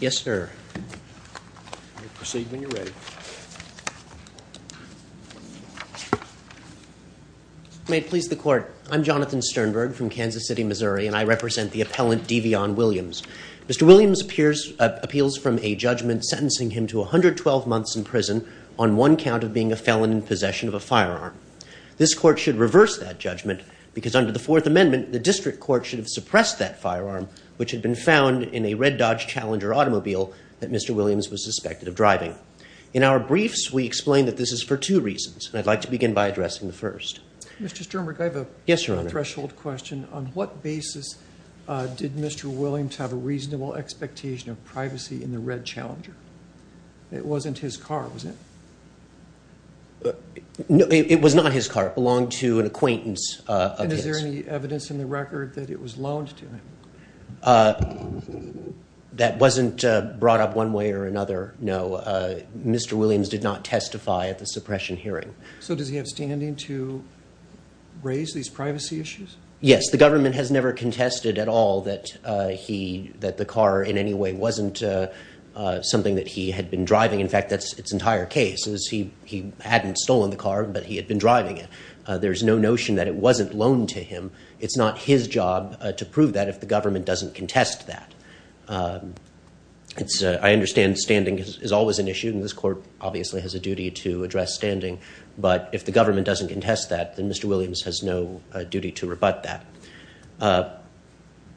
Yes sir. May it please the court. I'm Jonathan Sternberg from Kansas City, Missouri and I represent the appellant Devion Williams. Mr. Williams appears appeals from a judgment sentencing him to 112 months in prison on one count of being a felon in possession of a firearm. This court should reverse that judgment because under the Fourth Amendment the district court should have suppressed that firearm which had been found in a red Dodge Challenger automobile that Mr. Williams was suspected of driving. In our briefs we explain that this is for two reasons and I'd like to begin by addressing the first. Mr. Sternberg, I have a threshold question. On what basis did Mr. Williams have a reasonable expectation of privacy in the red Challenger? It wasn't his car, was it? It was not his car. It belonged to an acquaintance. And is there any evidence in the That wasn't brought up one way or another, no. Mr. Williams did not testify at the suppression hearing. So does he have standing to raise these privacy issues? Yes, the government has never contested at all that the car in any way wasn't something that he had been driving. In fact, that's its entire case. He hadn't stolen the car but he had been driving it. There's no job to prove that if the government doesn't contest that. I understand standing is always an issue and this court obviously has a duty to address standing but if the government doesn't contest that then Mr. Williams has no duty to rebut that.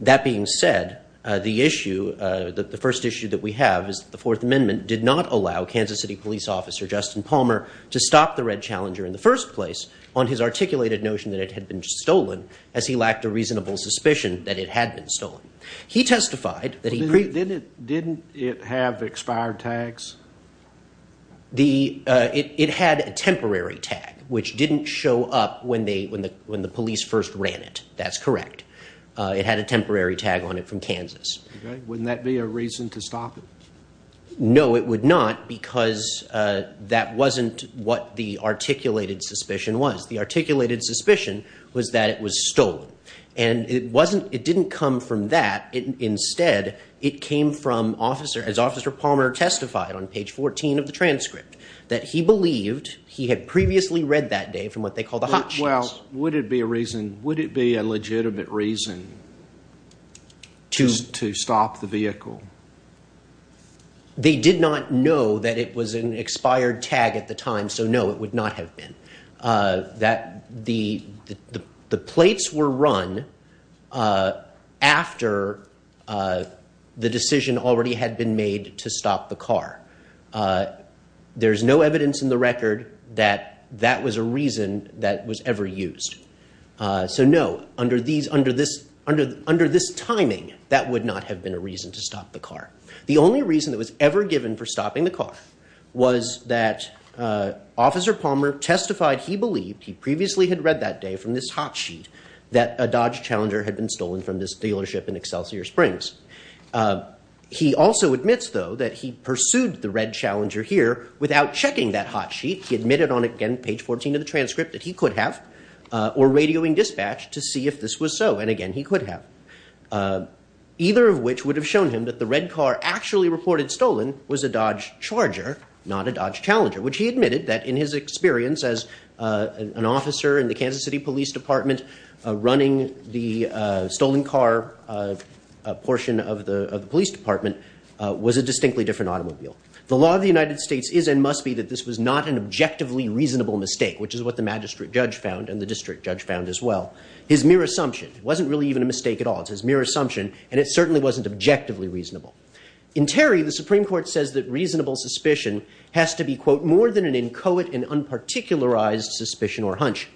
That being said, the issue, the first issue that we have is the Fourth Amendment did not allow Kansas City Police Officer Justin Palmer to stop the red Challenger in the first place on his articulated notion that it had been stolen as he lacked a reasonable suspicion that it had been stolen. He testified that he... Didn't it have expired tags? It had a temporary tag which didn't show up when the police first ran it. That's correct. It had a temporary tag on it from Kansas. Wouldn't that be a reason to stop it? No, it would not because that wasn't what the articulated suspicion was. The articulated suspicion was that it was stolen and it wasn't... It didn't come from that. Instead, it came from officer... As Officer Palmer testified on page 14 of the transcript that he believed he had previously read that day from what they called the hot sheets. Well, would it be a reason... Would it be a legitimate reason to stop the vehicle? They did not know that it was an expired tag at the time, so no, it would not have been. The plates were run after the decision already had been made to stop the car. There's no evidence in the record that that was a reason that was ever used. So no, under this timing, that would not have been a reason to stop the car. The only reason that was ever given for stopping the car was that Officer Palmer testified he believed he previously had read that day from this hot sheet that a Dodge Challenger had been stolen from this dealership in Excelsior Springs. He also admits, though, that he pursued the red Challenger here without checking that hot sheet. He admitted on, again, page 14 of the transcript that he could have or radioing dispatch to see if this was so. And again, he could have. Either of which would have shown him that the red car actually reported stolen was a Dodge Charger, not a Dodge Challenger, which he admitted that in his experience as an officer in the Kansas City Police Department running the stolen car portion of the Police Department was a distinctly different automobile. The law of the United States is and must be that this was not an objectively reasonable mistake, which is what the magistrate judge found and the district judge found as well. His mere assumption wasn't really even a mistake at all. It's his subjectively reasonable. In Terry, the Supreme Court says that reasonable suspicion has to be, quote, more than an inchoate and unparticularized suspicion or hunch.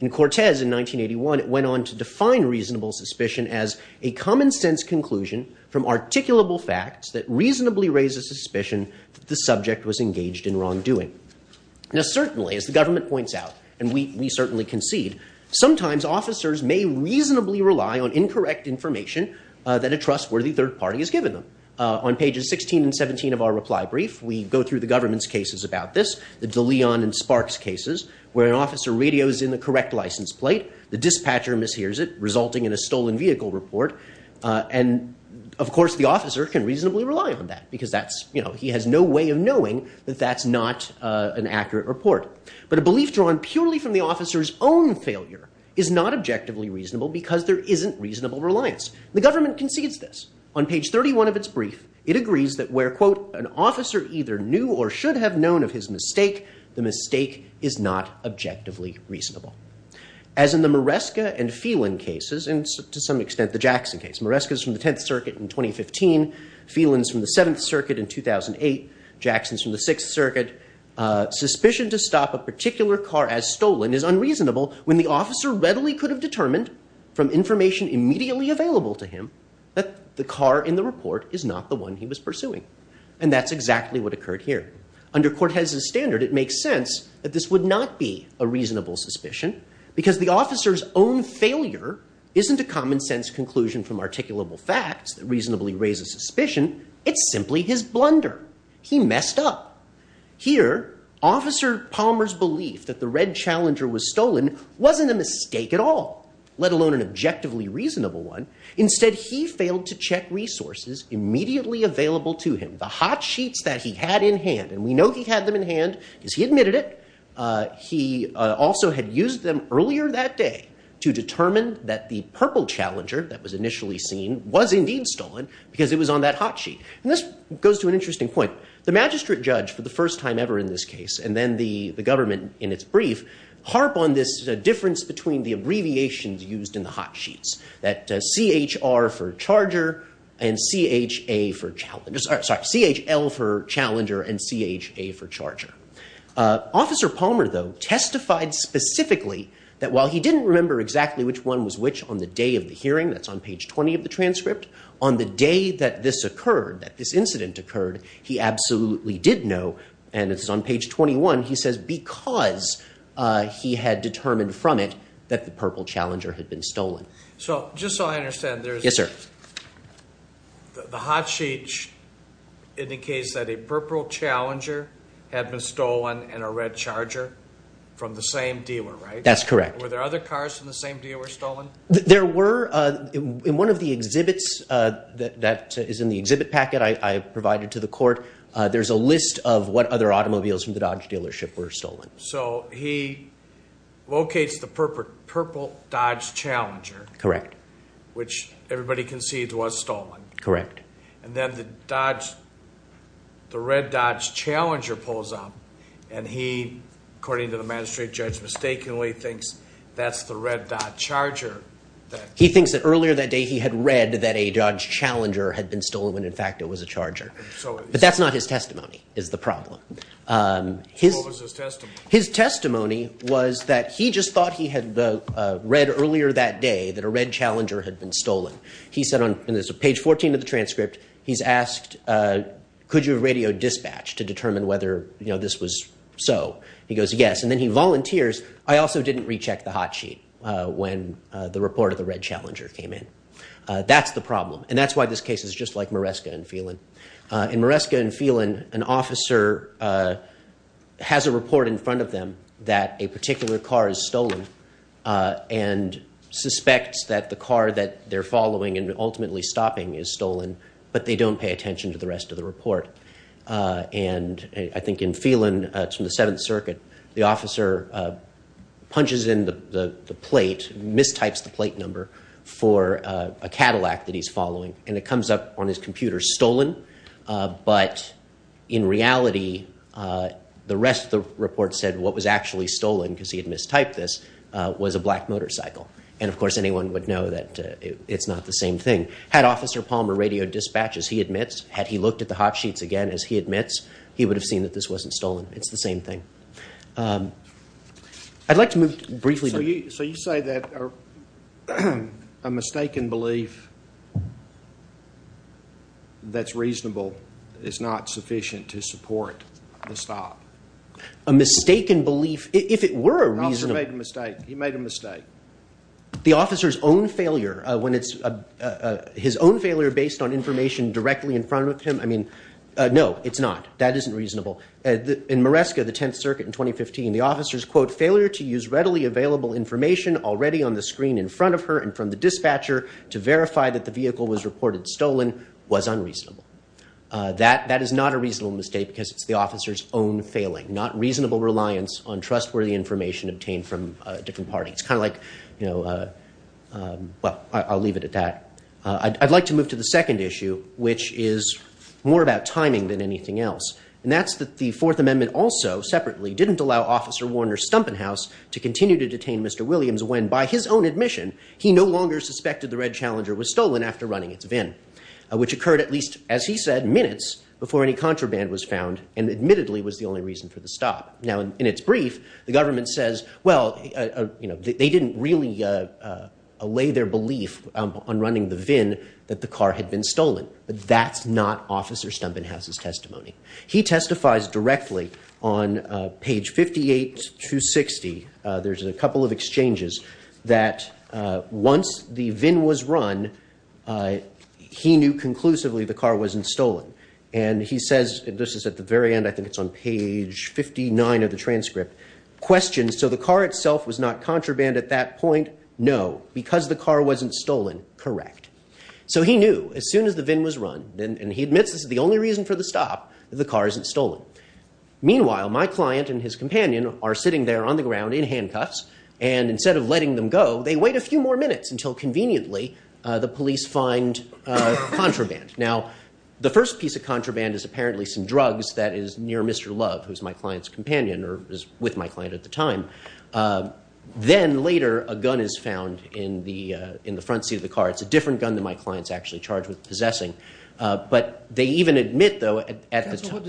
In Cortez in 1981, it went on to define reasonable suspicion as a common-sense conclusion from articulable facts that reasonably raises suspicion that the subject was engaged in wrongdoing. Now certainly, as the government points out, and we certainly concede, sometimes officers may reasonably rely on incorrect information that a trustworthy third party has given them. On pages 16 and 17 of our reply brief, we go through the government's cases about this, the De Leon and Sparks cases, where an officer radios in the correct license plate, the dispatcher mishears it, resulting in a stolen vehicle report, and of course the officer can reasonably rely on that because that's, you know, he has no way of knowing that that's not an accurate report. But a belief drawn purely from the officer's own failure is not objectively reasonable because there isn't reasonable reliance. The government concedes this. On page 31 of its brief, it agrees that where, quote, an officer either knew or should have known of his mistake, the mistake is not objectively reasonable. As in the Maresca and Phelan cases, and to some extent the Jackson case, Maresca's from the 10th Circuit in 2015, Phelan's from the 7th Circuit in 2008, Jackson's from the 6th Circuit, suspicion to stop a particular car as determined from information immediately available to him that the car in the report is not the one he was pursuing. And that's exactly what occurred here. Under Cortez's standard, it makes sense that this would not be a reasonable suspicion because the officer's own failure isn't a common-sense conclusion from articulable facts that reasonably raises suspicion. It's simply his blunder. He messed up. Here, Officer Palmer's belief that the red Challenger was let alone an objectively reasonable one. Instead, he failed to check resources immediately available to him. The hot sheets that he had in hand, and we know he had them in hand because he admitted it. He also had used them earlier that day to determine that the purple Challenger that was initially seen was indeed stolen because it was on that hot sheet. And this goes to an interesting point. The magistrate judge, for the first time ever in this case, and then the used in the hot sheets. That CHR for Charger and CHL for Challenger and CHA for Charger. Officer Palmer, though, testified specifically that while he didn't remember exactly which one was which on the day of the hearing, that's on page 20 of the transcript, on the day that this occurred, that this incident occurred, he absolutely did know, and it's on page 21, he says because he had determined from it that the purple Challenger had been stolen. So, just so I understand, there's... Yes, sir. The hot sheet indicates that a purple Challenger had been stolen and a red Charger from the same dealer, right? That's correct. Were there other cars from the same dealer stolen? There were. In one of the exhibits that is in the exhibit packet I provided to the court, there's a list of what other automobiles from the Dodge dealership were stolen. So, he locates the purple Dodge Challenger. Correct. Which everybody concedes was stolen. Correct. And then the Dodge, the red Dodge Challenger pulls up and he, according to the magistrate judge, mistakenly thinks that's the red Dodge Charger. He thinks that earlier that day he had read that a Dodge Challenger had been stolen when in fact it was a Charger. But that's not his testimony, is the problem. His testimony was that he just thought he had read earlier that day that a red Challenger had been stolen. He said on page 14 of the transcript, he's asked, could you radio dispatch to determine whether, you know, this was so. He goes, yes, and then he volunteers. I also didn't recheck the hot sheet when the report of the red Challenger came in. That's the problem, and that's why this case is just like Maresca and Phelan. In Maresca and Phelan, an officer has a report in front of them that a particular car is stolen and suspects that the car that they're following and ultimately stopping is stolen, but they don't pay attention to the rest of the report. And I think in Phelan, it's from the Seventh Circuit, the officer punches in the plate, mistypes the plate number for a Cadillac that he's following, and it But in reality, the rest of the report said what was actually stolen, because he had mistyped this, was a black motorcycle. And of course, anyone would know that it's not the same thing. Had Officer Palmer radio dispatched, as he admits, had he looked at the hot sheets again, as he admits, he would have seen that this wasn't stolen. It's the same thing. I'd like to move briefly. So you say that a mistaken belief that's reasonable is not sufficient to support the stop? A mistaken belief, if it were a reasonable... The officer made a mistake. He made a mistake. The officer's own failure, when it's his own failure based on information directly in front of him, I mean, no, it's not. That isn't reasonable. In Maresca, the Tenth Circuit in 2015, the officer's, quote, failure to use readily available information already on the screen in front of her and from the dispatcher to verify that the vehicle was reported stolen was unreasonable. That is not a reasonable mistake, because it's the officer's own failing, not reasonable reliance on trustworthy information obtained from different parties, kind of like, you know, well, I'll leave it at that. I'd like to move to the second issue, which is more about timing than anything else, and that's that the Fourth Amendment also, separately, didn't allow Officer Warner Stumpenhaus to continue to detain Mr. Williams when, by his own admission, he no longer suspected the Red Challenger was stolen after running its VIN, which occurred at least, as he said, minutes before any contraband was found, and admittedly was the only reason for the stop. Now, in its brief, the government says, well, you know, they didn't really allay their belief on running the VIN that the car had been stolen, but that's not Officer Stumpenhaus' testimony. He testifies directly on page 58 to 60. There's a couple of exchanges that, once the VIN was run, he knew conclusively the car wasn't stolen, and he says, and this is at the very end, I think it's on page 59 of the transcript, questions, so the car itself was not contraband at that point? No, because the car wasn't stolen, correct. So he knew, as soon as the VIN was run, and he admits this is the only reason for the stop, the car isn't stolen. Meanwhile, my client and his companion are sitting there on the ground in handcuffs, and instead of letting them go, they wait a few more minutes until, conveniently, the police find contraband. Now, the first piece of contraband is apparently some drugs that is near Mr. Love, who's my client's companion, or was with my client at the time. Then, later, a gun is found in the front seat of the car. It's a different gun than my What does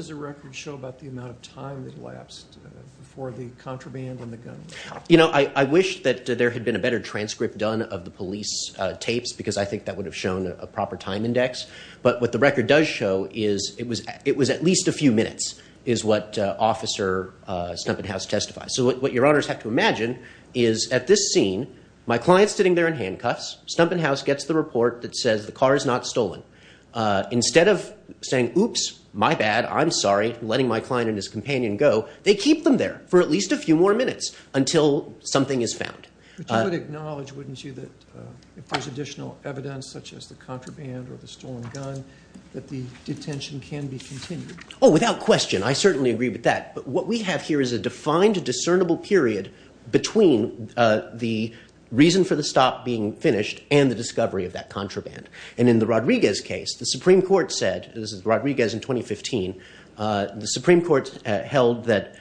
the record show about the amount of time that lapsed before the contraband and the gun? You know, I wish that there had been a better transcript done of the police tapes, because I think that would have shown a proper time index, but what the record does show is it was at least a few minutes, is what Officer Stumpenhaus testifies. So what your honors have to imagine is, at this scene, my client's sitting there in handcuffs, Stumpenhaus gets the report that says the car is not stolen. Instead of saying, oops, my bad, I'm sorry, letting my client and his companion go, they keep them there for at least a few more minutes until something is found. But you would acknowledge, wouldn't you, that if there's additional evidence, such as the contraband or the stolen gun, that the detention can be continued? Oh, without question. I certainly agree with that. But what we have here is a defined, discernible period between the reason for the stop being finished and the discovery of that contraband. And in the Rodriguez case, the Supreme Court said, this is Rodriguez in 2015, the Supreme Court held that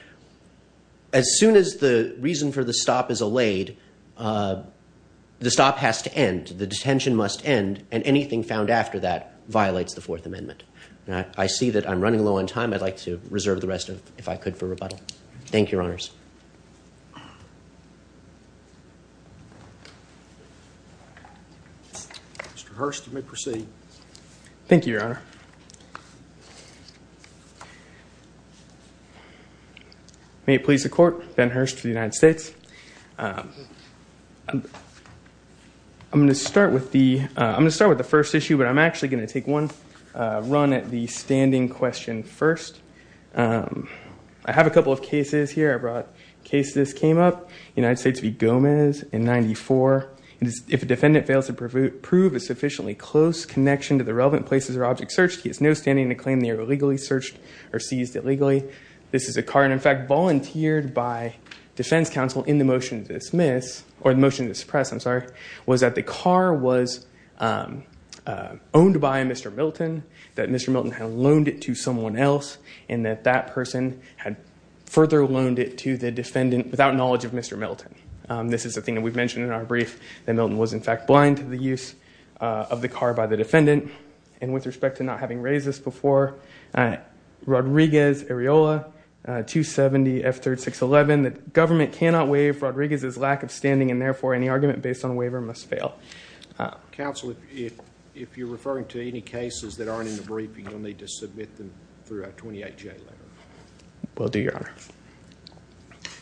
as soon as the reason for the stop is allayed, the stop has to end, the detention must end, and anything found after that violates the Fourth Amendment. I see that I'm running low on time. I'd like to reserve the rest, if I could, for rebuttal. Thank you, your honors. Mr. Hurst, you may proceed. Thank you, your honor. May it please the court, Ben Hurst for the United States. I'm going to start with the first issue, but I'm actually going to take one run at the standing question first. I have a couple of cases here. I brought cases that came up. United States v. Gomez in 94, if a defendant fails to prove a sufficiently close connection to the relevant places or objects searched, he has no standing to claim they are illegally searched or seized illegally. This is a car, and in fact, volunteered by defense counsel in the motion to dismiss, or the motion to suppress, I'm sorry, was that the car was owned by Mr. Milton, that Mr. Milton had loaned it to someone else, and that that person had further loaned it to the defendant without knowledge of Mr. Milton. This is a thing that we've mentioned in our brief, that Milton was, in fact, blind to the use of the car by the defendant. And with respect to not having raised this before, Rodriguez, Areola, 270F3611, the government cannot waive Rodriguez's lack of standing, and therefore, any argument based on a waiver must fail. Counsel, if you're referring to any cases that aren't in the briefing, you'll need to submit them through a 28-J letter. Will do, Your Honor.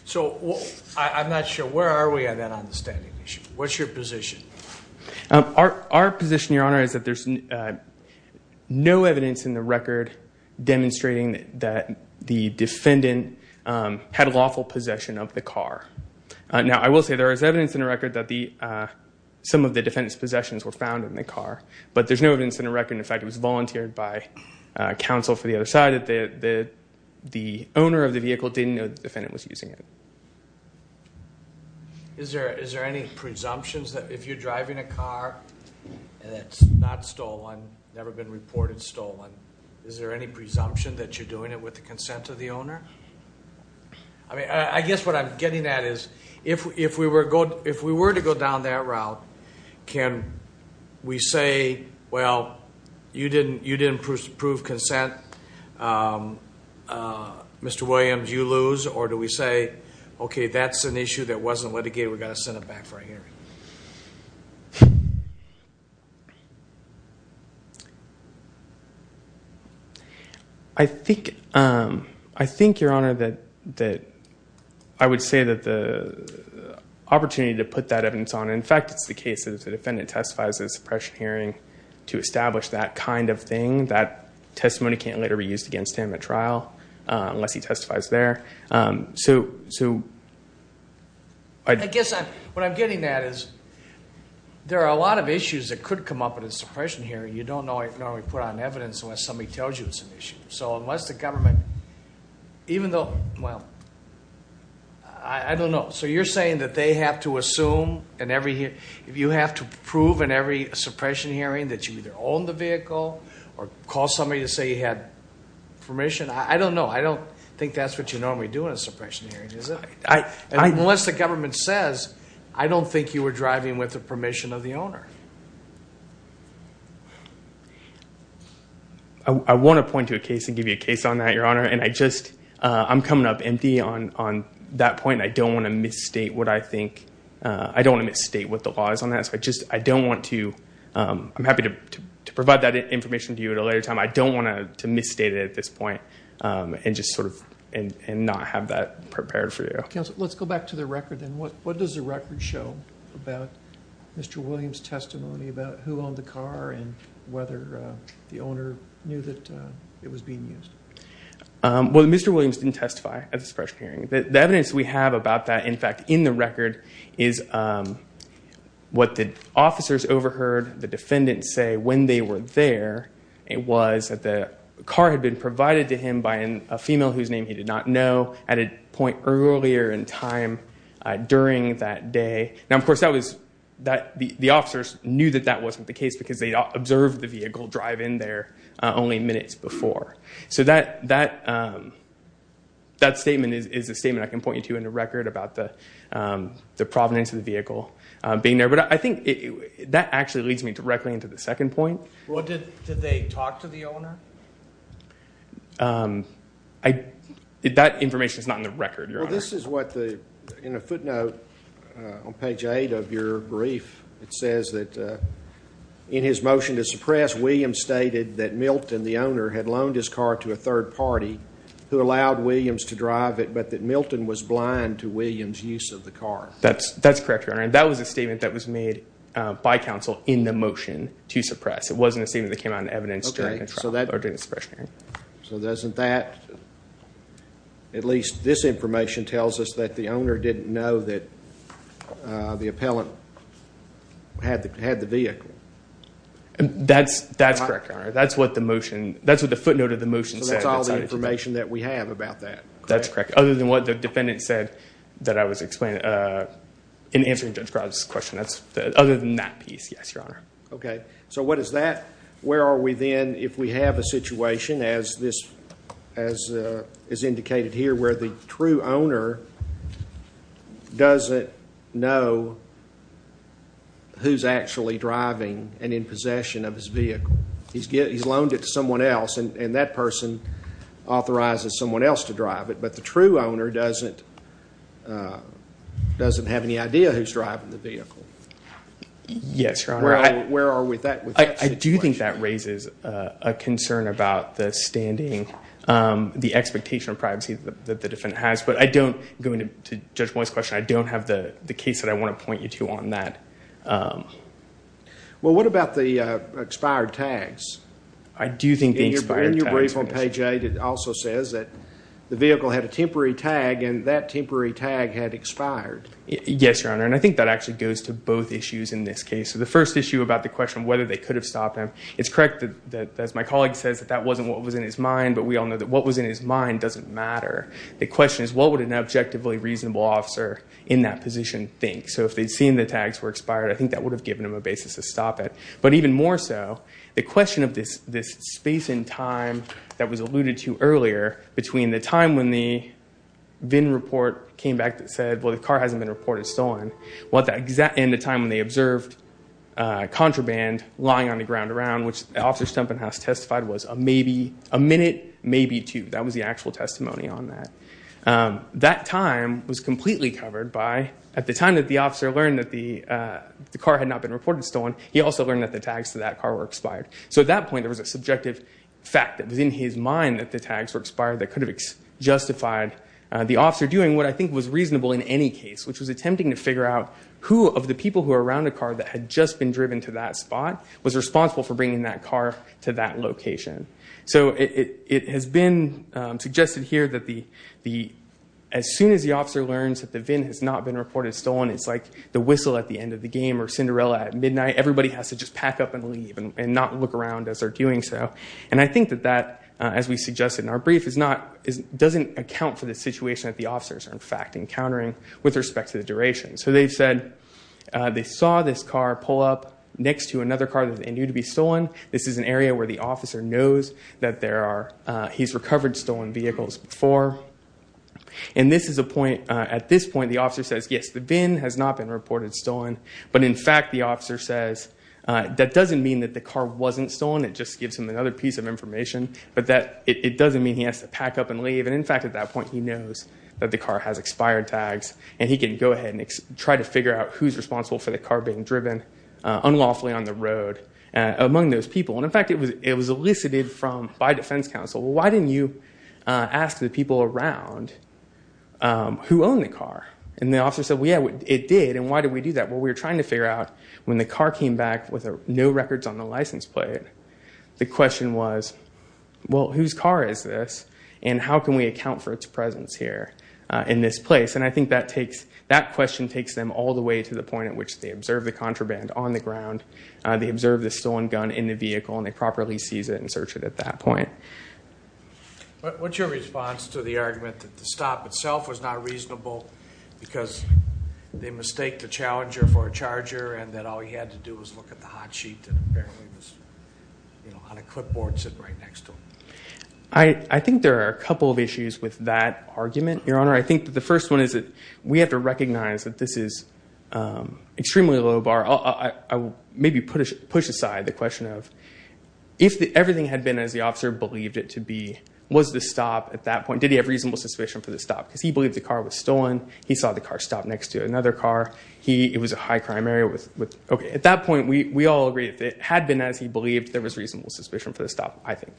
So, I'm not sure, where are we on that understanding issue? What's your position? Our position, Your Honor, is that there's no evidence in the record demonstrating that the defendant had lawful possession of the car. Now, I will say there is evidence in the record that some of the defendant's possessions were found in the car, but there's no evidence in the record, in fact, it was volunteered by counsel for the other side, that the owner of the vehicle didn't know the defendant was using it. Is there any presumptions that if you're driving a car that's not stolen, never been reported stolen, is there any presumption that you're doing it with the consent of the owner? I mean, I guess what I'm getting at is, if we were to go down that route, can we say, well, you didn't approve consent, Mr. Williams, you lose, or do we say, okay, that's an issue that wasn't litigated, we've got to send it back for a hearing? I think, Your Honor, that I would say that the opportunity to put that evidence on, in fact, it's the case that if the defendant testifies at a suppression hearing to establish that kind of thing, that testimony can't later be used against him at trial unless he testifies there. So, I guess what I'm getting at is, there are a lot of issues that could come up at a suppression hearing you don't normally put on evidence unless somebody tells you it's an issue. So, unless the government, even though, well, I don't know. So, you're saying that they have to assume, if you have to prove in every suppression hearing that you either own the vehicle, or call somebody to say you had permission, I don't know. I don't think that's what you normally do in a suppression hearing, is it? And unless the government says, I don't think you were driving with the permission of the owner. I want to point to a case and give you a case on that, Your Honor, and I just, I'm coming up empty on that point. I don't want to misstate what I think, I don't want to misstate what the law is on that, so I just, I don't want to, I'm happy to provide that information to you at a later time, I don't want to misstate it at this point. And just sort of, and not have that prepared for you. Counsel, let's go back to the record then. What does the record show about Mr. Williams' testimony about who owned the car and whether the owner knew that it was being used? Well, Mr. Williams didn't testify at the suppression hearing. The evidence we have about that, in fact, in the record, is what the officers overheard the defendant say when they were there. It was that the car had been provided to him by a female whose name he did not know at a point earlier in time during that day. Now, of course, the officers knew that that wasn't the case because they observed the vehicle drive in there only minutes before. So that statement is a statement I can point you to in the record about the provenance of the vehicle being there. But I think that actually leads me directly into the second point. Well, did they talk to the owner? That information is not in the record, Your Honor. Well, this is what the, in a footnote on page eight of your brief, it says that in his motion to suppress, Williams stated that Milton, the owner, had loaned his car to a third party who allowed Williams to drive it, but that Milton was blind to Williams' use of the car. That's correct, Your Honor. And that was a statement that was made by counsel in the motion to suppress. It wasn't a statement that came out in evidence during the trial or during the suppression hearing. So doesn't that, at least this information tells us that the owner didn't know that the appellant had the vehicle. That's correct, Your Honor. That's what the motion, that's what the footnote of the motion said. So that's all the information that we have about that. That's correct. Other than what the defendant said that I was explaining, in answering Judge Grubb's question. That's, other than that piece, yes, Your Honor. Okay. So what is that? Where are we then if we have a situation as this, as is indicated here, where the true owner doesn't know who's actually driving and in possession of his vehicle. He's loaned it to someone else, and that person authorizes someone else to drive it, but the true owner doesn't have any idea who's driving the vehicle. Yes, Your Honor. Where are we with that situation? I do think that raises a concern about the standing, the expectation of privacy that the defendant has, but I don't, going to Judge Moyes' question, I don't have the case that I want to point you to on that. Well, what about the expired tags? I do think the expired tags. In your brief on page eight, it also says that the vehicle had a temporary tag, and that temporary tag had expired. Yes, Your Honor, and I think that actually goes to both issues in this case. So the first issue about the question of whether they could have stopped him, it's correct that, as my colleague says, that that wasn't what was in his mind, but we all know that what was in his mind doesn't matter. The question is, what would an objectively reasonable officer in that position think? So if they'd seen the tags were expired, I think that would have given him a basis to stop it. But even more so, the question of this space in time that was alluded to earlier, between the time when the VIN report came back that said, well, the car hasn't been reported stolen, and the time when they observed contraband lying on the ground around, which Officer Stumpenhaus testified was a minute, maybe two. That was the actual testimony on that. That time was completely covered by, at the time that the officer learned that the car had not been reported stolen, so at that point there was a subjective fact that was in his mind that the tags were expired that could have justified the officer doing what I think was reasonable in any case, which was attempting to figure out who of the people who were around the car that had just been driven to that spot was responsible for bringing that car to that location. So it has been suggested here that as soon as the officer learns that the VIN has not been reported stolen, it's like the whistle at the end of the game or Cinderella at midnight. Everybody has to just pack up and leave and not look around as they're doing so. And I think that that, as we suggested in our brief, doesn't account for the situation that the officers are in fact encountering with respect to the duration. So they've said they saw this car pull up next to another car that they knew to be stolen. This is an area where the officer knows that he's recovered stolen vehicles before. And at this point the officer says, yes, the VIN has not been reported stolen, but in fact the officer says that doesn't mean that the car wasn't stolen. It just gives him another piece of information. But it doesn't mean he has to pack up and leave. And in fact at that point he knows that the car has expired tags. And he can go ahead and try to figure out who's responsible for the car being driven unlawfully on the road among those people. And in fact it was elicited by defense counsel. Why didn't you ask the people around who owned the car? And the officer said, yeah, it did. And why did we do that? Well, we were trying to figure out when the car came back with no records on the license plate, the question was, well, whose car is this? And how can we account for its presence here in this place? And I think that question takes them all the way to the point at which they observe the contraband on the ground. They observe the stolen gun in the vehicle and they properly seize it and search it at that point. What's your response to the argument that the stop itself was not reasonable because they mistake the challenger for a charger and that all he had to do was look at the hot sheet that apparently was on a clipboard sitting right next to him? I think there are a couple of issues with that argument, Your Honor. I think that the first one is that we have to recognize that this is extremely low bar. I will maybe push aside the question of if everything had been as the officer believed it to be, was the stop at that point, did he have reasonable suspicion for the stop? He believed the car was stolen. He saw the car stop next to another car. It was a high crime area. At that point, we all agreed if it had been as he believed, there was reasonable suspicion for the stop, I think.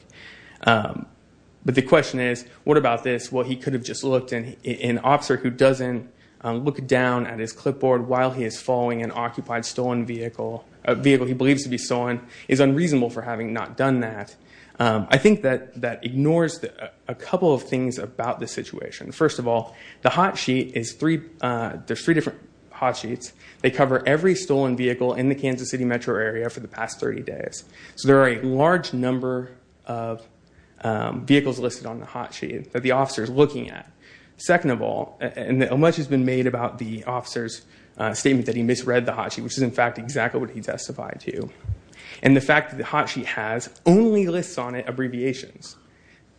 But the question is, what about this? Well, he could have just looked and an officer who doesn't look down at his clipboard while he is following an occupied stolen vehicle, a vehicle he believes to be stolen, is unreasonable for having not done that. I think that ignores a couple of things about the situation. First of all, the hot sheet is three, there's three different hot sheets. They cover every stolen vehicle in the Kansas City metro area for the past 30 days. So there are a large number of vehicles listed on the hot sheet that the officer is looking at. Second of all, and much has been made about the officer's statement that he misread the hot sheet, which is in fact exactly what he testified to. And the fact that the hot sheet has only lists on it abbreviations.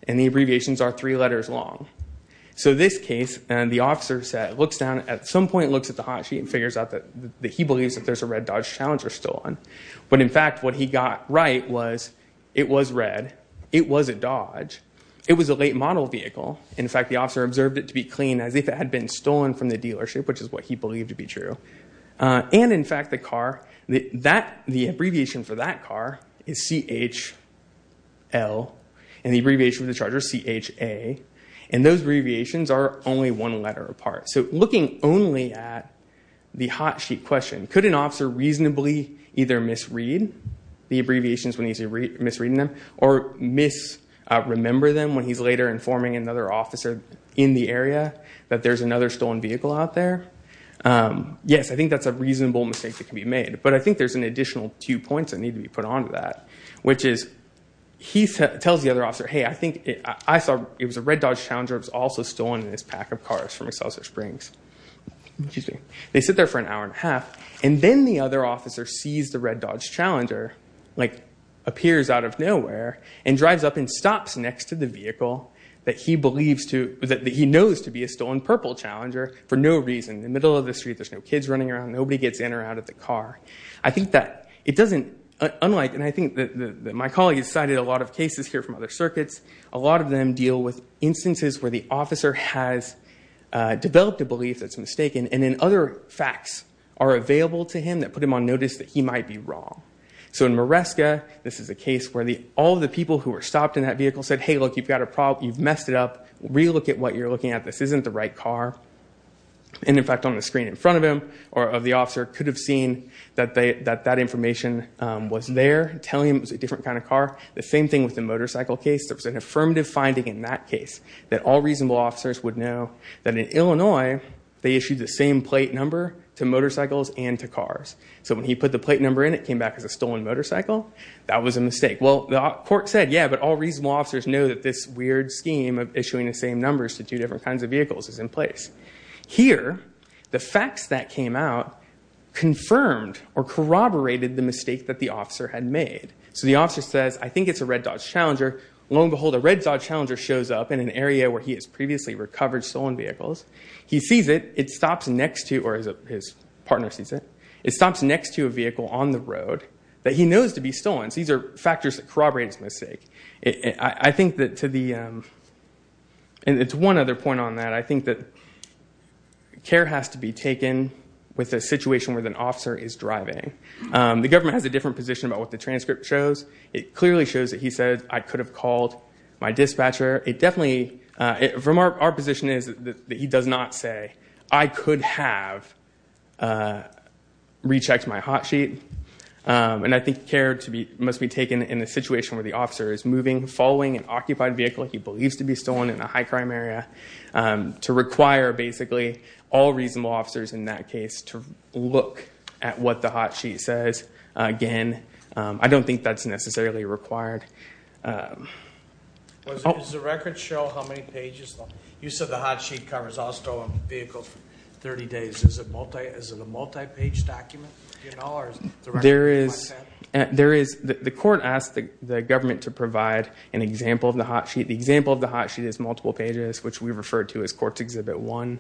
And the abbreviations are three letters long. So this case, and the officer looks down, at some point looks at the hot sheet and figures out that he believes that there's a red Dodge Challenger stolen. But in fact, what he got right was it was red, it wasn't Dodge, it was a late model vehicle. In fact, the officer observed it to be clean as if it had been stolen from the dealership, which is what he believed to be true. And in fact, the abbreviation for that car is CHL, and the abbreviation for the Charger is CHA. And those abbreviations are only one letter apart. So looking only at the hot sheet question, could an officer reasonably either misread the abbreviations when he's misreading them, or misremember them when he's later informing another officer in the area that there's another stolen vehicle out there? Yes, I think that's a reasonable mistake that can be made. But I think there's an additional two points that need to be put onto that, which is he tells the other officer, hey, I think I saw it was a red Dodge Challenger that was also stolen in this pack of cars from Excelsior Springs. Excuse me. They sit there for an hour and a half, and then the other officer sees the red Dodge Challenger, like, appears out of nowhere, and drives up and stops next to the vehicle that he knows to be a stolen purple Challenger for no reason. In the middle of the street, there's no kids running around, nobody gets in or out of the car. I think that it doesn't, unlike, and I think that my colleague has cited a lot of cases here from other circuits, a lot of them deal with instances where the officer has developed a belief that's mistaken, and then other facts are available to him that put him on notice that he might be wrong. So in Maresca, this is a case where all the people who were stopped in that vehicle said, hey, look, you've got a problem, you've messed it up, re-look at what you're looking at, this isn't the right car. And in fact, on the screen in front of him, or of the officer, could have seen that that information was there, telling him it was a different kind of car. The same thing with the motorcycle case. There was an affirmative finding in that case, that all reasonable officers would know that in Illinois, they issued the same plate number to motorcycles and to cars. So when he put the plate number in, it came back as a stolen motorcycle. That was a mistake. Well, the court said, yeah, but all reasonable officers know that this weird scheme of issuing the same numbers to two different kinds of vehicles is in place. Here, the facts that came out confirmed or corroborated the mistake that the officer had made. So the officer says, I think it's a red Dodge Challenger. Lo and behold, a red Dodge Challenger shows up in an area where he has previously recovered stolen vehicles. He sees it, it stops next to, or his partner sees it, it stops next to a vehicle on the road that he knows to be stolen. So these are factors that corroborate his mistake. I think that to the, and to one other point on that, I think that care has to be taken with a situation where an officer is driving. The government has a different position about what the transcript shows. It clearly shows that he said, I could have called my dispatcher. It definitely, from our position is that he does not say, I could have rechecked my hot sheet. And I think care must be taken in a situation where the officer is moving, following an occupied vehicle he believes to be stolen in a high crime area, to require basically all reasonable officers in that case to look at what the hot sheet says. Again, I don't think that's necessarily required. Does the record show how many pages? You said the hot sheet covers all stolen vehicles for 30 days. Is it a multi-page document? The court asked the government to provide an example of the hot sheet. The example of the hot sheet is multiple pages, which we refer to as Courts Exhibit 1.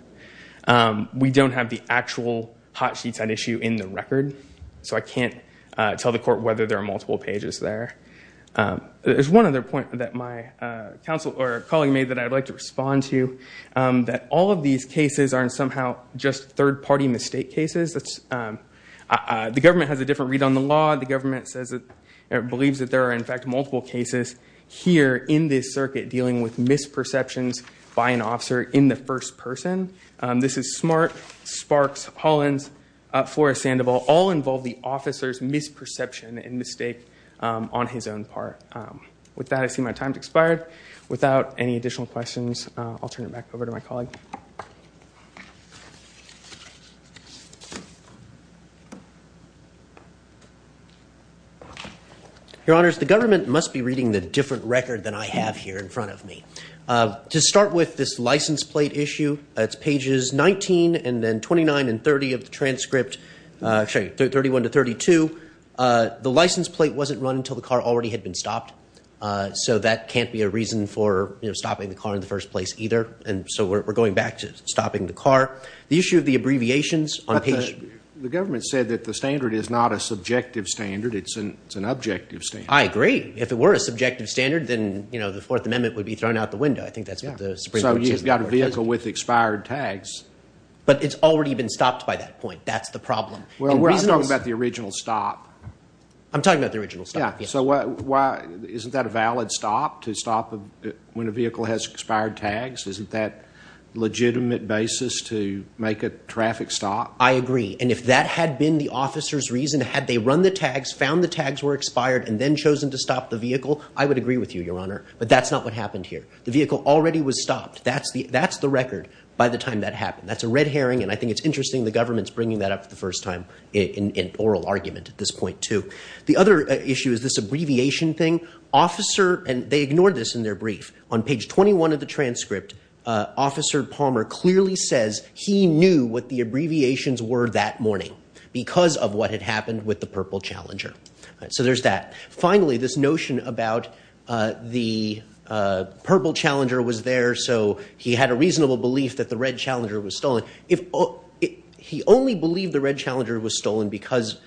We don't have the actual hot sheets at issue in the record. So I can't tell the court whether there are multiple pages there. There's one other point that my colleague made that I'd like to respond to, that all these cases aren't somehow just third-party mistake cases. The government has a different read on the law. The government believes that there are, in fact, multiple cases here in this circuit dealing with misperceptions by an officer in the first person. This is Smart, Sparks, Hollins, Flores, Sandoval. All involve the officer's misperception and mistake on his own part. With that, I see my time has expired. Without any additional questions, I'll turn it back over to my colleague. Your Honor, the government must be reading the different record than I have here in front of me. To start with this license plate issue, that's pages 19 and then 29 and 30 of the transcript. Actually, 31 to 32, the license plate wasn't run until the car already had been stopped. So that can't be a reason for stopping the car in the first place either. So we're going back to stopping the car. The issue of the abbreviations on page... The government said that the standard is not a subjective standard. It's an objective standard. I agree. If it were a subjective standard, then the Fourth Amendment would be thrown out the window. I think that's what the Supreme Court says. So you've got a vehicle with expired tags. But it's already been stopped by that point. That's the problem. Well, I'm talking about the original stop. I'm talking about the original stop, yes. So isn't that a valid stop to stop when a vehicle has expired tags? Isn't that a legitimate basis to make a traffic stop? I agree. And if that had been the officer's reason, had they run the tags, found the tags were expired, and then chosen to stop the vehicle, I would agree with you, Your Honor. But that's not what happened here. The vehicle already was stopped. That's the record by the time that happened. That's a red herring, and I think it's interesting the government's bringing that up for the first time in oral argument at this point too. The other issue is this abbreviation thing. Officer... And they ignored this in their brief. On page 21 of the transcript, Officer Palmer clearly says he knew what the abbreviations were that morning because of what had happened with the purple Challenger. So there's that. Finally, this notion about the purple Challenger was there so he had a reasonable belief that the red Challenger was stolen, he only believed the red Challenger was stolen because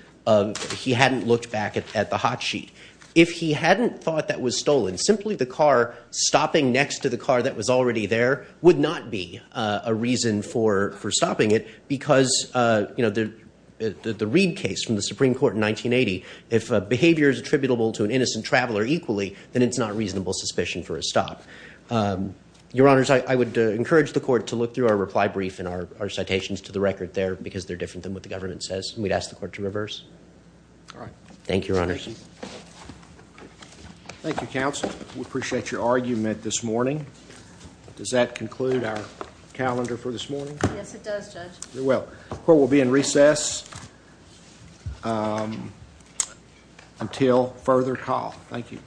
he hadn't looked back at the hot sheet. If he hadn't thought that was stolen, simply the car stopping next to the car that was already there would not be a reason for stopping it because the Reid case from the Supreme Court in 1980, if behavior is attributable to an innocent traveler equally, then it's not reasonable suspicion for a stop. Your Honors, I would encourage the Court to look through our reply brief and our citations to the record there because they're different than what the government says, and we'd ask All right. Thank you, Your Honors. Thank you, Counsel. We appreciate your argument this morning. Does that conclude our calendar for this morning? Yes, it does, Judge. It will. The Court will be in recess until further call. Thank you.